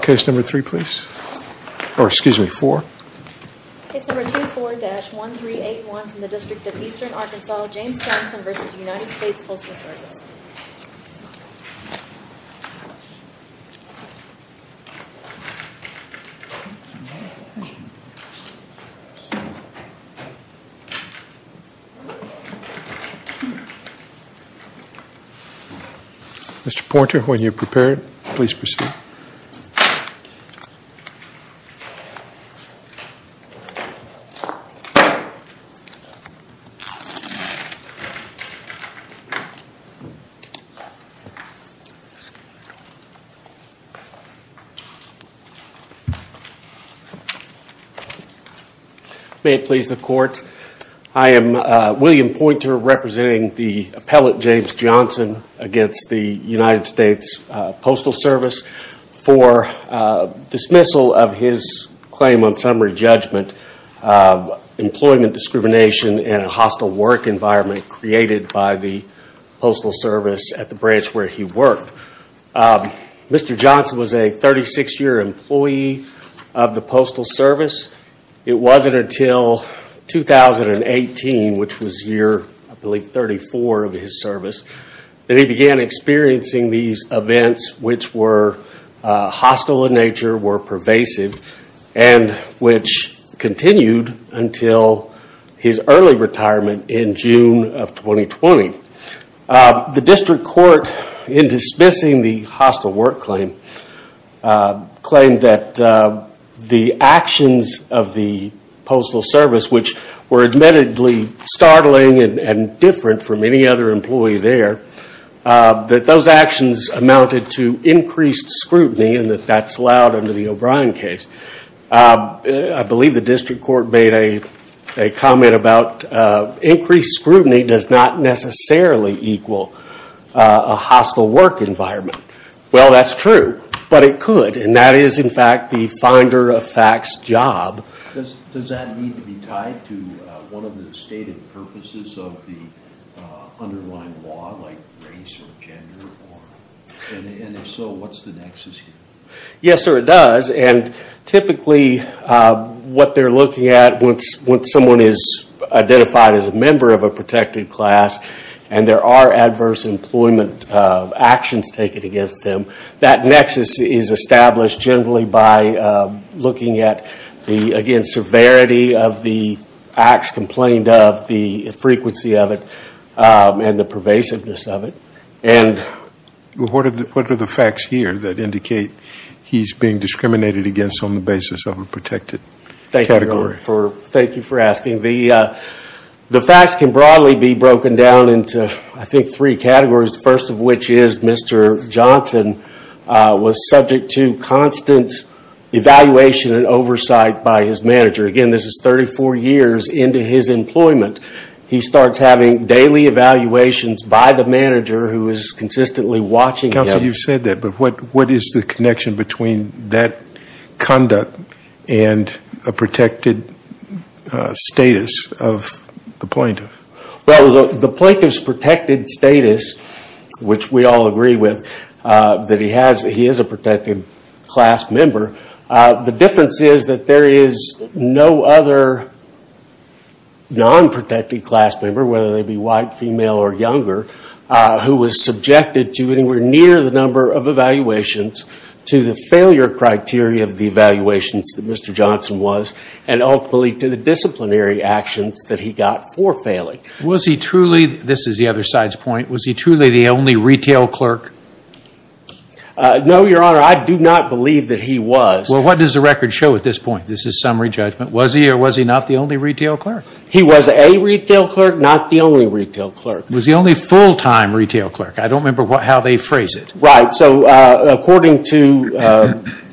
Case number 24-1381 from the District of Eastern Arkansas, James Johnson v. United States Postal Service Mr. Poynter, when you're prepared, please proceed May it please the Court, I am William Poynter representing the appellate James Johnson against the United States Postal Service for dismissal of his claim on summary judgment, employment discrimination, and a hostile work environment created by the Postal Service at the branch where he worked Mr. Johnson was a 36-year employee of the Postal Service. It wasn't until 2018, which was year 34 of his service, that he began experiencing these events which were hostile in nature, were pervasive, and which continued until his early retirement in June of 2020 The District Court, in dismissing the hostile work claim, claimed that the actions of the Postal Service, which were admittedly startling and different from any other employee there, that those actions amounted to increased scrutiny and that that's allowed under the O'Brien case I believe the District Court made a comment about increased scrutiny does not necessarily equal a hostile work environment. Well, that's true, but it could, and that is in fact the finder of facts job Does that need to be tied to one of the stated purposes of the underlying law, like race or gender? And if so, what's the nexus here? Yes, sir, it does, and typically what they're looking at once someone is identified as a member of a protected class and there are adverse employment actions taken against them, that nexus is established generally by looking at the, again, severity of the acts complained of, the frequency of it, and the pervasiveness of it What are the facts here that indicate he's being discriminated against on the basis of a protected category? Thank you for asking. The facts can broadly be broken down into, I think, three categories, the first of which is Mr. Johnson was subject to constant evaluation and oversight by his manager. Again, this is 34 years into his employment. He starts having daily evaluations by the manager who is consistently watching him You've said that, but what is the connection between that conduct and a protected status of the plaintiff? Well, the plaintiff's protected status, which we all agree with, that he is a protected class member, the difference is that there is no other non-protected class member, whether they be white, female, or younger, who was subjected to anywhere near the number of evaluations to the failure criteria of the evaluations that Mr. Johnson was, and ultimately to the disciplinary actions that he got for failing Was he truly, this is the other side's point, was he truly the only retail clerk? No, your honor, I do not believe that he was. Well, what does the record show at this point? This is summary judgment. Was he or was he not the only retail clerk? He was a retail clerk, not the only retail clerk. Was he only full-time retail clerk? I don't remember how they phrase it. Right, so according to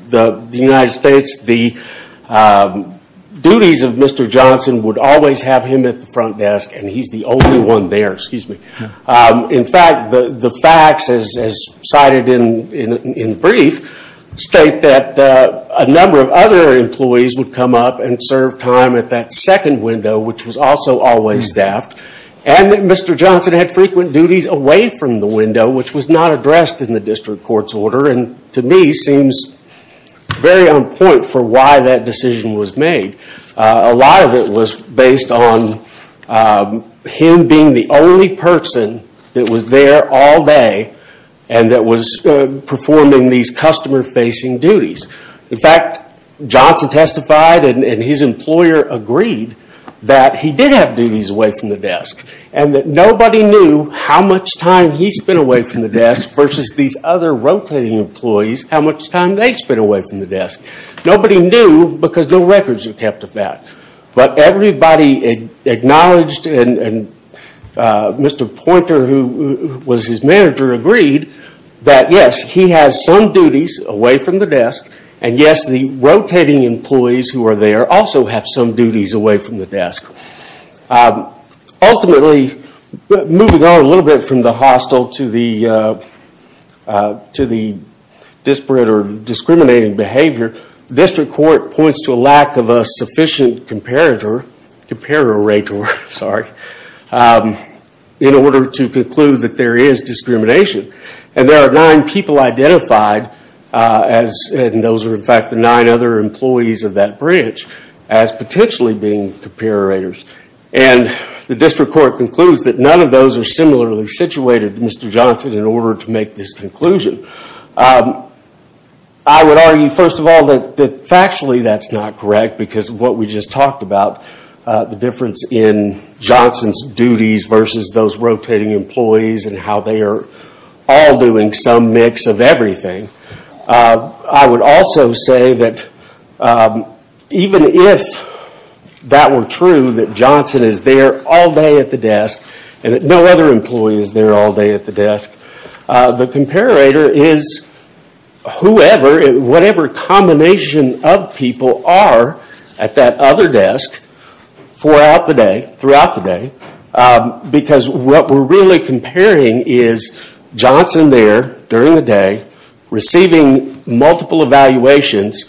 the United States, the duties of Mr. Johnson would always have him at the front desk, and he's the only one there. In fact, the facts, as cited in brief, state that a number of other employees would come up and serve time at that second window, which was also always staffed, and that Mr. Johnson had frequent duties away from the window, which was not addressed in the district court's order, and to me seems very on point for why that decision was made. A lot of it was based on him being the only person that was there all day and that was performing these customer-facing duties. In fact, Johnson testified and his employer agreed that he did have duties away from the desk, and that nobody knew how much time he spent away from the desk versus these other rotating employees, how much time they spent away from the desk. Nobody knew because no records were kept of that, but everybody acknowledged and Mr. Poynter, who was his manager, agreed that yes, he has some duties away from the desk, and yes, the rotating employees who are there also have some duties away from the desk. Ultimately, moving on a little bit from the hostile to the disparate or discriminating behavior, district court points to a lack of a sufficient comparator in order to conclude that there is discrimination. There are nine people identified, and those are in fact the nine other employees of that branch, as potentially being comparators. The district court concludes that none of those are similarly situated to Mr. Johnson in order to make this conclusion. I would argue, first of all, that factually that's not correct because of what we just talked about, the difference in Johnson's duties versus those rotating employees and how they are all doing some mix of everything. I would also say that even if that were true, that Johnson is there all day at the desk and that no other employee is there all day at the desk, the comparator is whoever, whatever combination of people are at that other desk throughout the day because what we're really comparing is Johnson there during the day, receiving multiple evaluations,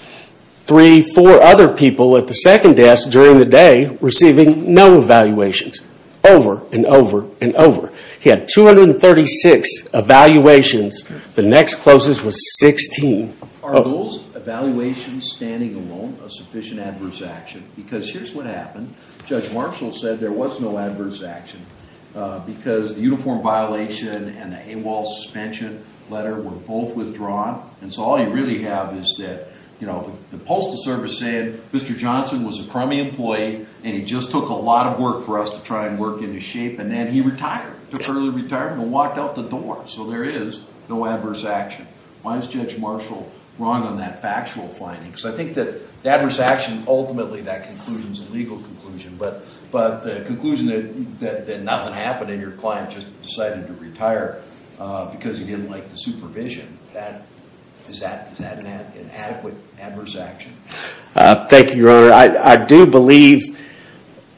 three, four other people at the second desk during the day receiving no evaluations, over and over and over. He had 236 evaluations, the next closest was 16. Are those evaluations standing alone a sufficient adverse action? Because here's what happened. Judge Marshall said there was no adverse action because the uniform violation and the AWOL suspension letter were both withdrawn. And so all you really have is that the postal service said Mr. Johnson was a crummy employee and he just took a lot of work for us to try and work into shape, and then he retired, took early retirement and walked out the door. So there is no adverse action. Why is Judge Marshall wrong on that factual finding? Because I think that the adverse action, ultimately that conclusion is a legal conclusion. But the conclusion that nothing happened and your client just decided to retire because he didn't like the supervision, is that an adequate adverse action? Thank you, Your Honor. Your Honor, I do believe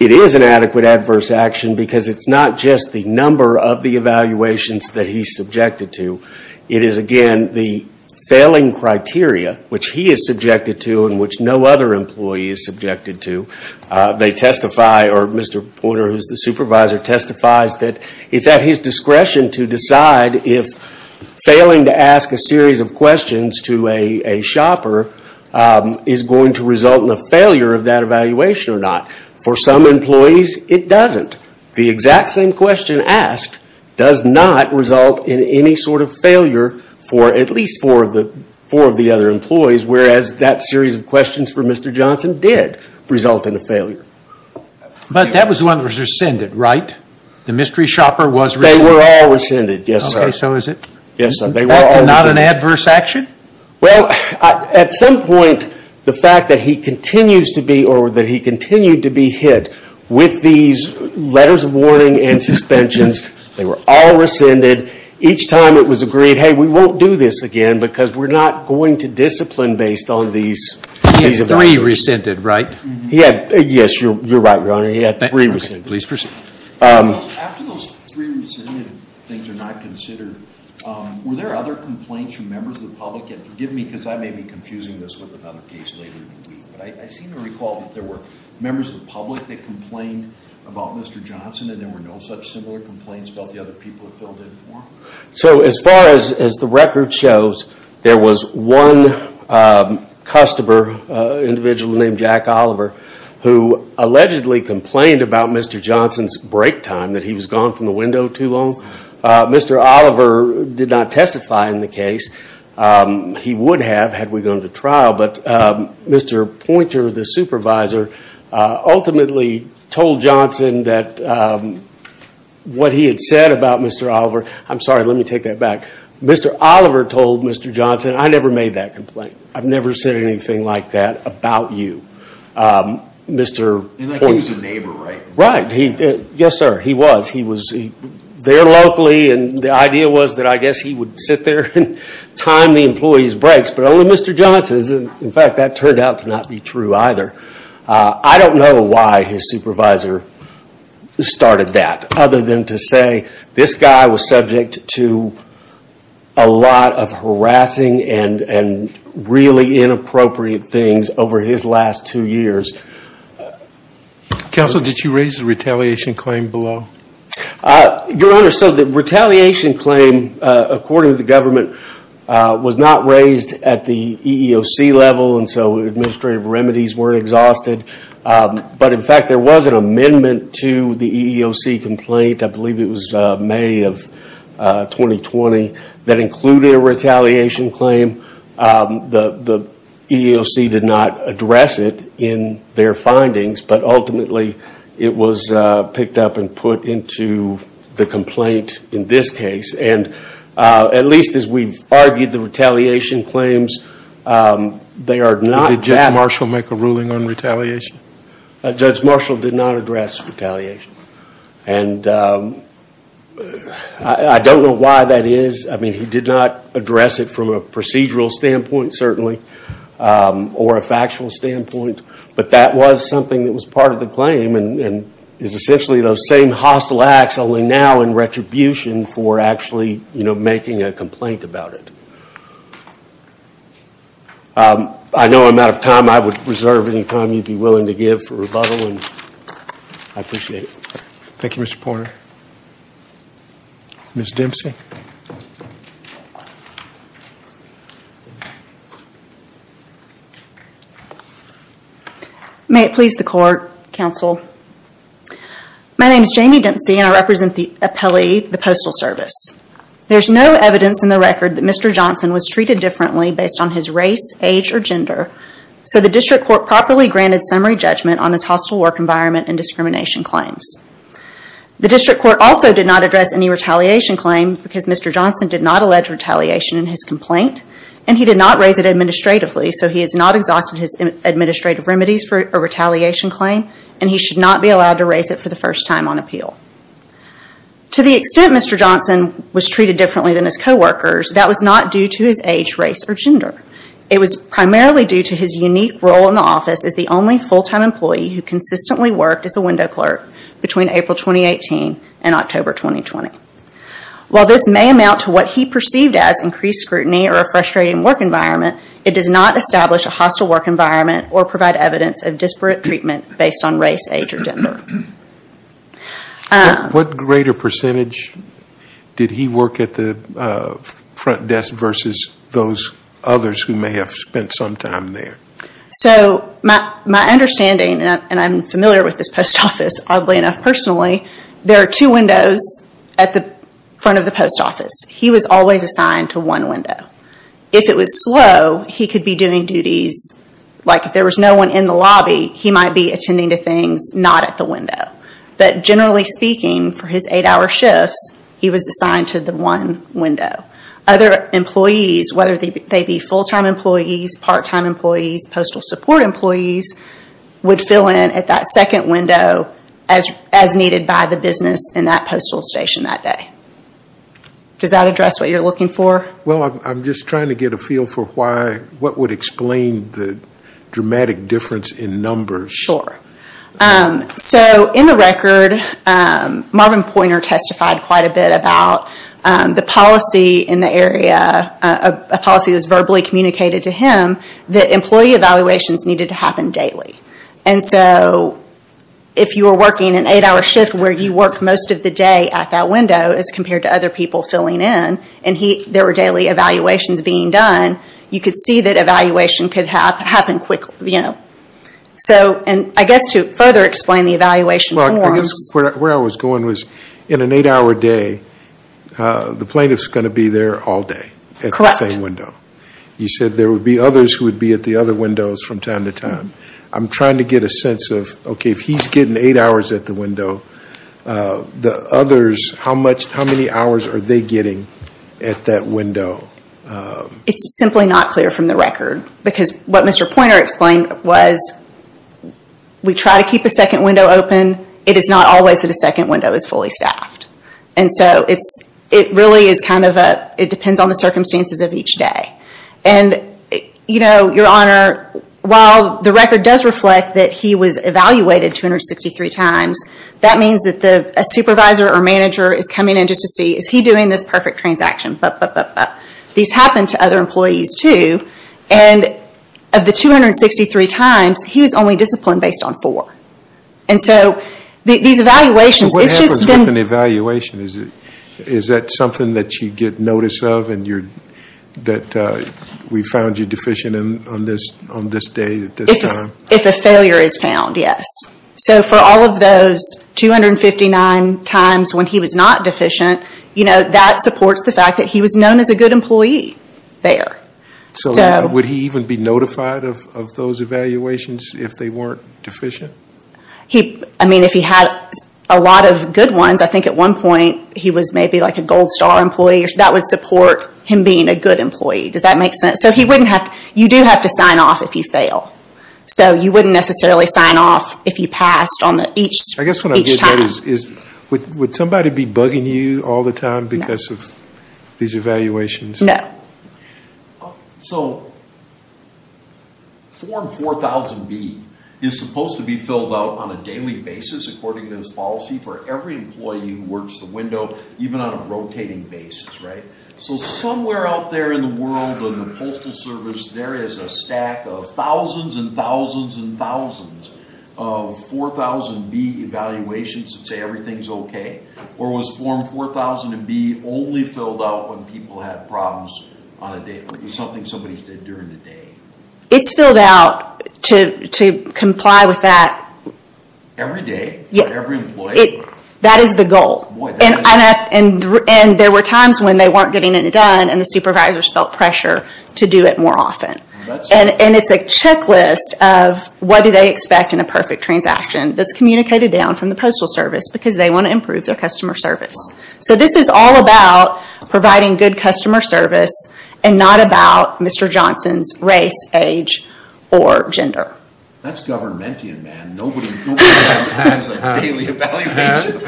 it is an adequate adverse action because it's not just the number of the evaluations that he's subjected to. It is, again, the failing criteria which he is subjected to and which no other employee is subjected to. They testify, or Mr. Porter, who is the supervisor, testifies that it's at his discretion to decide if failing to ask a series of questions to a shopper is going to result in a failure of that evaluation or not. For some employees, it doesn't. The exact same question asked does not result in any sort of failure for at least four of the other employees, whereas that series of questions for Mr. Johnson did result in a failure. But that was one that was rescinded, right? The mystery shopper was rescinded? They were all rescinded, yes, sir. Okay, so is it not an adverse action? Well, at some point, the fact that he continues to be hit with these letters of warning and suspensions, they were all rescinded. Each time it was agreed, hey, we won't do this again because we're not going to discipline based on these pieces of evidence. He had three rescinded, right? Yes, you're right, Your Honor. He had three rescinded. Please proceed. After those three rescinded things are not considered, were there other complaints from members of the public? And forgive me because I may be confusing this with another case later in the week, but I seem to recall that there were members of the public that complained about Mr. Johnson and there were no such similar complaints about the other people that filled in for him. So as far as the record shows, there was one customer, an individual named Jack Oliver, who allegedly complained about Mr. Johnson's break time, that he was gone from the window too long. Mr. Oliver did not testify in the case. He would have had we gone to trial, but Mr. Poynter, the supervisor, ultimately told Johnson that what he had said about Mr. Oliver, I'm sorry, let me take that back. Mr. Oliver told Mr. Johnson, I never made that complaint. I've never said anything like that about you, Mr. Poynter. He was a neighbor, right? Right. Yes, sir, he was. He was there locally and the idea was that I guess he would sit there and time the employee's breaks, but only Mr. Johnson's. In fact, that turned out to not be true either. I don't know why his supervisor started that, other than to say this guy was subject to a lot of harassing and really inappropriate things over his last two years. Counsel, did you raise the retaliation claim below? Your Honor, so the retaliation claim, according to the government, was not raised at the EEOC level, and so administrative remedies weren't exhausted. But, in fact, there was an amendment to the EEOC complaint, I believe it was May of 2020, that included a retaliation claim. The EEOC did not address it in their findings, but ultimately it was picked up and put into the complaint in this case. At least as we've argued, the retaliation claims, they are not bad. Did Judge Marshall make a ruling on retaliation? Judge Marshall did not address retaliation. I don't know why that is. I mean, he did not address it from a procedural standpoint, certainly, or a factual standpoint, but that was something that was part of the claim, and is essentially those same hostile acts, only now in retribution for actually making a complaint about it. I know I'm out of time. I would reserve any time you'd be willing to give for rebuttal, and I appreciate it. Thank you, Mr. Porter. Ms. Dempsey. May it please the Court, Counsel. My name is Jamie Dempsey, and I represent the appellee, the Postal Service. There's no evidence in the record that Mr. Johnson was treated differently based on his race, age, or gender, so the District Court properly granted summary judgment on his hostile work environment and discrimination claims. The District Court also did not address any retaliation claim, because Mr. Johnson did not allege retaliation in his complaint, and he did not raise it administratively, so he has not exhausted his administrative remedies for a retaliation claim, and he should not be allowed to raise it for the first time on appeal. To the extent Mr. Johnson was treated differently than his coworkers, that was not due to his age, race, or gender. It was primarily due to his unique role in the office as the only full-time employee who consistently worked as a window clerk, between April 2018 and October 2020. While this may amount to what he perceived as increased scrutiny or a frustrating work environment, it does not establish a hostile work environment or provide evidence of disparate treatment based on race, age, or gender. What greater percentage did he work at the front desk versus those others who may have spent some time there? My understanding, and I'm familiar with this post office oddly enough personally, there are two windows at the front of the post office. He was always assigned to one window. If it was slow, he could be doing duties, like if there was no one in the lobby, he might be attending to things not at the window. But generally speaking, for his eight-hour shifts, he was assigned to the one window. Other employees, whether they be full-time employees, part-time employees, postal support employees, would fill in at that second window as needed by the business in that postal station that day. Does that address what you're looking for? I'm just trying to get a feel for what would explain the dramatic difference in numbers. In the record, Marvin Pointer testified quite a bit about the policy in the area, a policy that was verbally communicated to him that employee evaluations needed to happen daily. If you were working an eight-hour shift where you worked most of the day at that window, as compared to other people filling in, and there were daily evaluations being done, you could see that evaluation could happen quickly. So I guess to further explain the evaluation. Where I was going was in an eight-hour day, the plaintiff is going to be there all day at the same window. Correct. You said there would be others who would be at the other windows from time to time. I'm trying to get a sense of, okay, if he's getting eight hours at the window, the others, how many hours are they getting at that window? It's simply not clear from the record. Because what Mr. Pointer explained was we try to keep a second window open. It is not always that a second window is fully staffed. It really depends on the circumstances of each day. Your Honor, while the record does reflect that he was evaluated 263 times, that means that a supervisor or manager is coming in just to see, is he doing this perfect transaction? These happen to other employees too. And of the 263 times, he was only disciplined based on four. And so these evaluations. What happens with an evaluation? Is that something that you get notice of and that we found you deficient on this day at this time? If a failure is found, yes. So for all of those 259 times when he was not deficient, that supports the fact that he was known as a good employee there. Would he even be notified of those evaluations if they weren't deficient? If he had a lot of good ones, I think at one point he was maybe like a gold star employee. That would support him being a good employee. Does that make sense? You do have to sign off if you fail. So you wouldn't necessarily sign off if you passed on each time. I guess what I'm getting at is would somebody be bugging you all the time because of these evaluations? No. So Form 4000B is supposed to be filled out on a daily basis according to this policy for every employee who works the window, even on a rotating basis, right? So somewhere out there in the world, in the postal service, there is a stack of thousands and thousands and thousands of 4000B evaluations that say everything's okay? Or was Form 4000B only filled out when people had problems on a daily basis? Something somebody said during the day? It's filled out to comply with that. Every day? Yes. For every employee? That is the goal. And there were times when they weren't getting it done and the supervisors felt pressure to do it more often. And it's a checklist of what do they expect in a perfect transaction that's communicated down from the postal service because they want to improve their customer service. So this is all about providing good customer service and not about Mr. Johnson's race, age, or gender. That's governmentian, man. Nobody has a daily evaluation.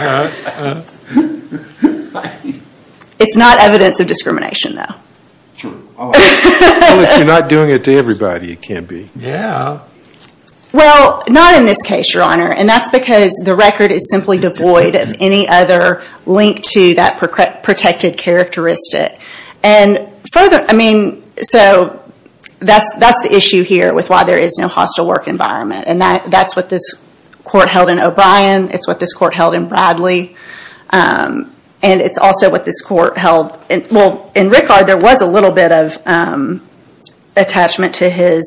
It's not evidence of discrimination, though. True. Unless you're not doing it to everybody, it can't be. Yeah. Well, not in this case, Your Honor. And that's because the record is simply devoid of any other link to that protected characteristic. And further, I mean, so that's the issue here with why there is no hostile work environment. And that's what this court held in O'Brien. It's what this court held in Bradley. And it's also what this court held in Rickard. There was a little bit of attachment to his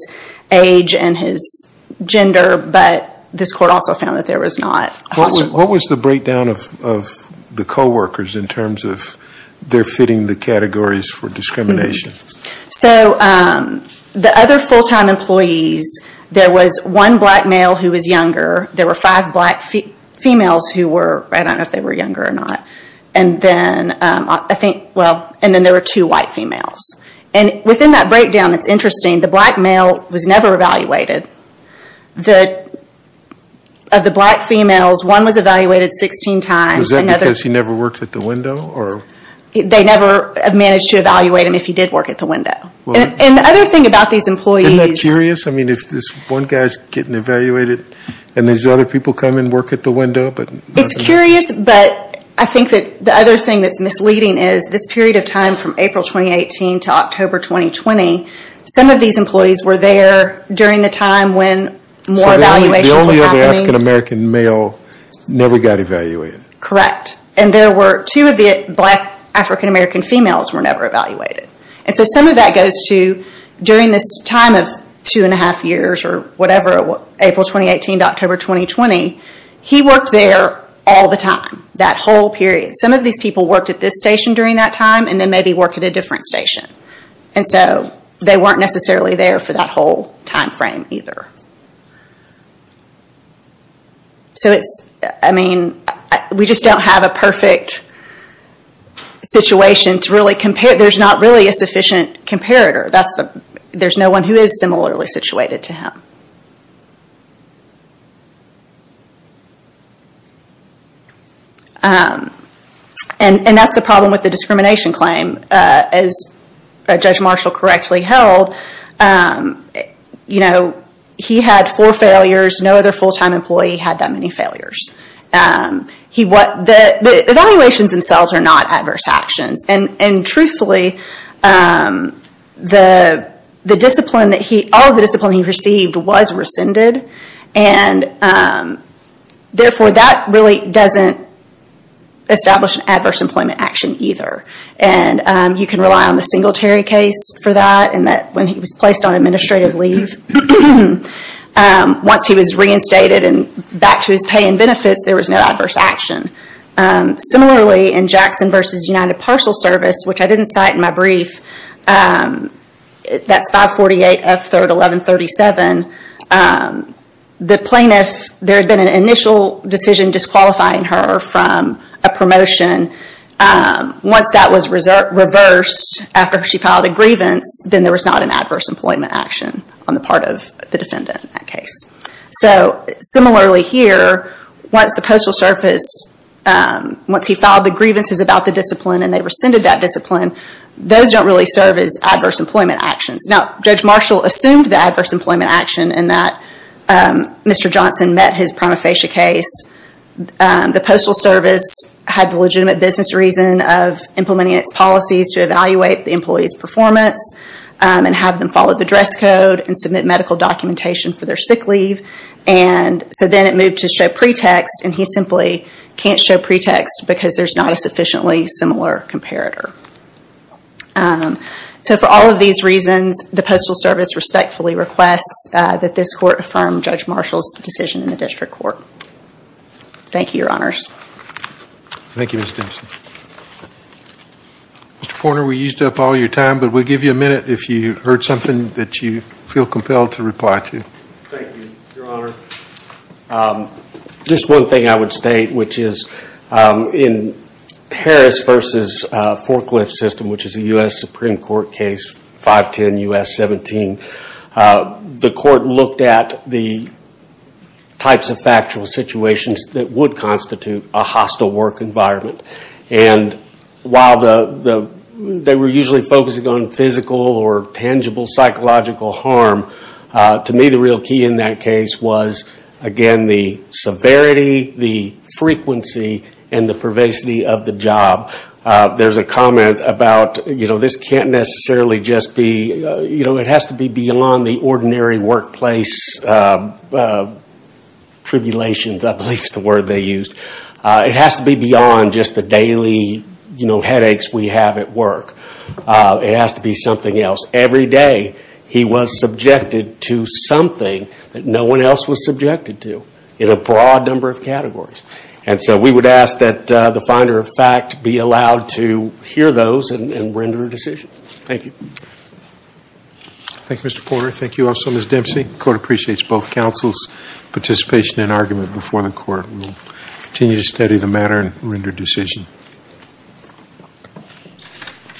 age and his gender, but this court also found that there was not hostile work. What was the breakdown of the coworkers in terms of their fitting the categories for discrimination? So the other full-time employees, there was one black male who was younger. There were five black females who were, I don't know if they were younger or not. And then there were two white females. And within that breakdown, it's interesting, the black male was never evaluated. Of the black females, one was evaluated 16 times. Was that because he never worked at the window? They never managed to evaluate him if he did work at the window. And the other thing about these employees. Isn't that curious? I mean, if this one guy is getting evaluated and these other people come and work at the window. It's curious, but I think that the other thing that's misleading is this period of time from April 2018 to October 2020, some of these employees were there during the time when more evaluations were happening. So the only other African-American male never got evaluated? Correct. And two of the black African-American females were never evaluated. And so some of that goes to during this time of two and a half years or whatever, April 2018 to October 2020, he worked there all the time, that whole period. Some of these people worked at this station during that time and then maybe worked at a different station. And so they weren't necessarily there for that whole time frame either. So it's, I mean, we just don't have a perfect situation to really compare. There's not really a sufficient comparator. There's no one who is similarly situated to him. And that's the problem with the discrimination claim. As Judge Marshall correctly held, he had four failures. No other full-time employee had that many failures. The evaluations themselves are not adverse actions. And truthfully, all of the discipline he received was rescinded. And therefore, that really doesn't establish an adverse employment action either. And you can rely on the Singletary case for that in that when he was placed on administrative leave, once he was reinstated and back to his pay and benefits, there was no adverse action. Similarly, in Jackson v. United Parcel Service, which I didn't cite in my brief, that's 548 F. 3rd 1137, the plaintiff, there had been an initial decision disqualifying her from a promotion. Once that was reversed after she filed a grievance, then there was not an adverse employment action on the part of the defendant in that case. So similarly here, once the Postal Service, once he filed the grievances about the discipline and they rescinded that discipline, those don't really serve as adverse employment actions. Now, Judge Marshall assumed the adverse employment action in that Mr. Johnson met his prima facie case. The Postal Service had the legitimate business reason of implementing its policies to evaluate the employee's performance and have them follow the dress code and submit medical documentation for their sick leave. And so then it moved to show pretext and he simply can't show pretext because there's not a sufficiently similar comparator. So for all of these reasons, the Postal Service respectfully requests that this court affirm Judge Marshall's decision in the District Court. Thank you, Your Honors. Thank you, Ms. Dempsey. Mr. Forner, we used up all your time, but we'll give you a minute if you heard something that you feel compelled to reply to. Thank you, Your Honor. Just one thing I would state, which is in Harris v. Forklift System, which is a U.S. Supreme Court case, 510 U.S. 17, the court looked at the types of factual situations that would constitute a hostile work environment. And while they were usually focusing on physical or tangible psychological harm, to me the real key in that case was, again, the severity, the frequency, and the pervasity of the job. There's a comment about, you know, this can't necessarily just be, you know, it has to be beyond the ordinary workplace tribulations, I believe is the word they used. It has to be beyond just the daily, you know, headaches we have at work. It has to be something else. Every day he was subjected to something that no one else was subjected to in a broad number of categories. And so we would ask that the finder of fact be allowed to hear those and render a decision. Thank you. Thank you, Mr. Porter. Thank you also, Ms. Dempsey. The court appreciates both counsel's participation and argument before the court. We will continue to study the matter and render a decision.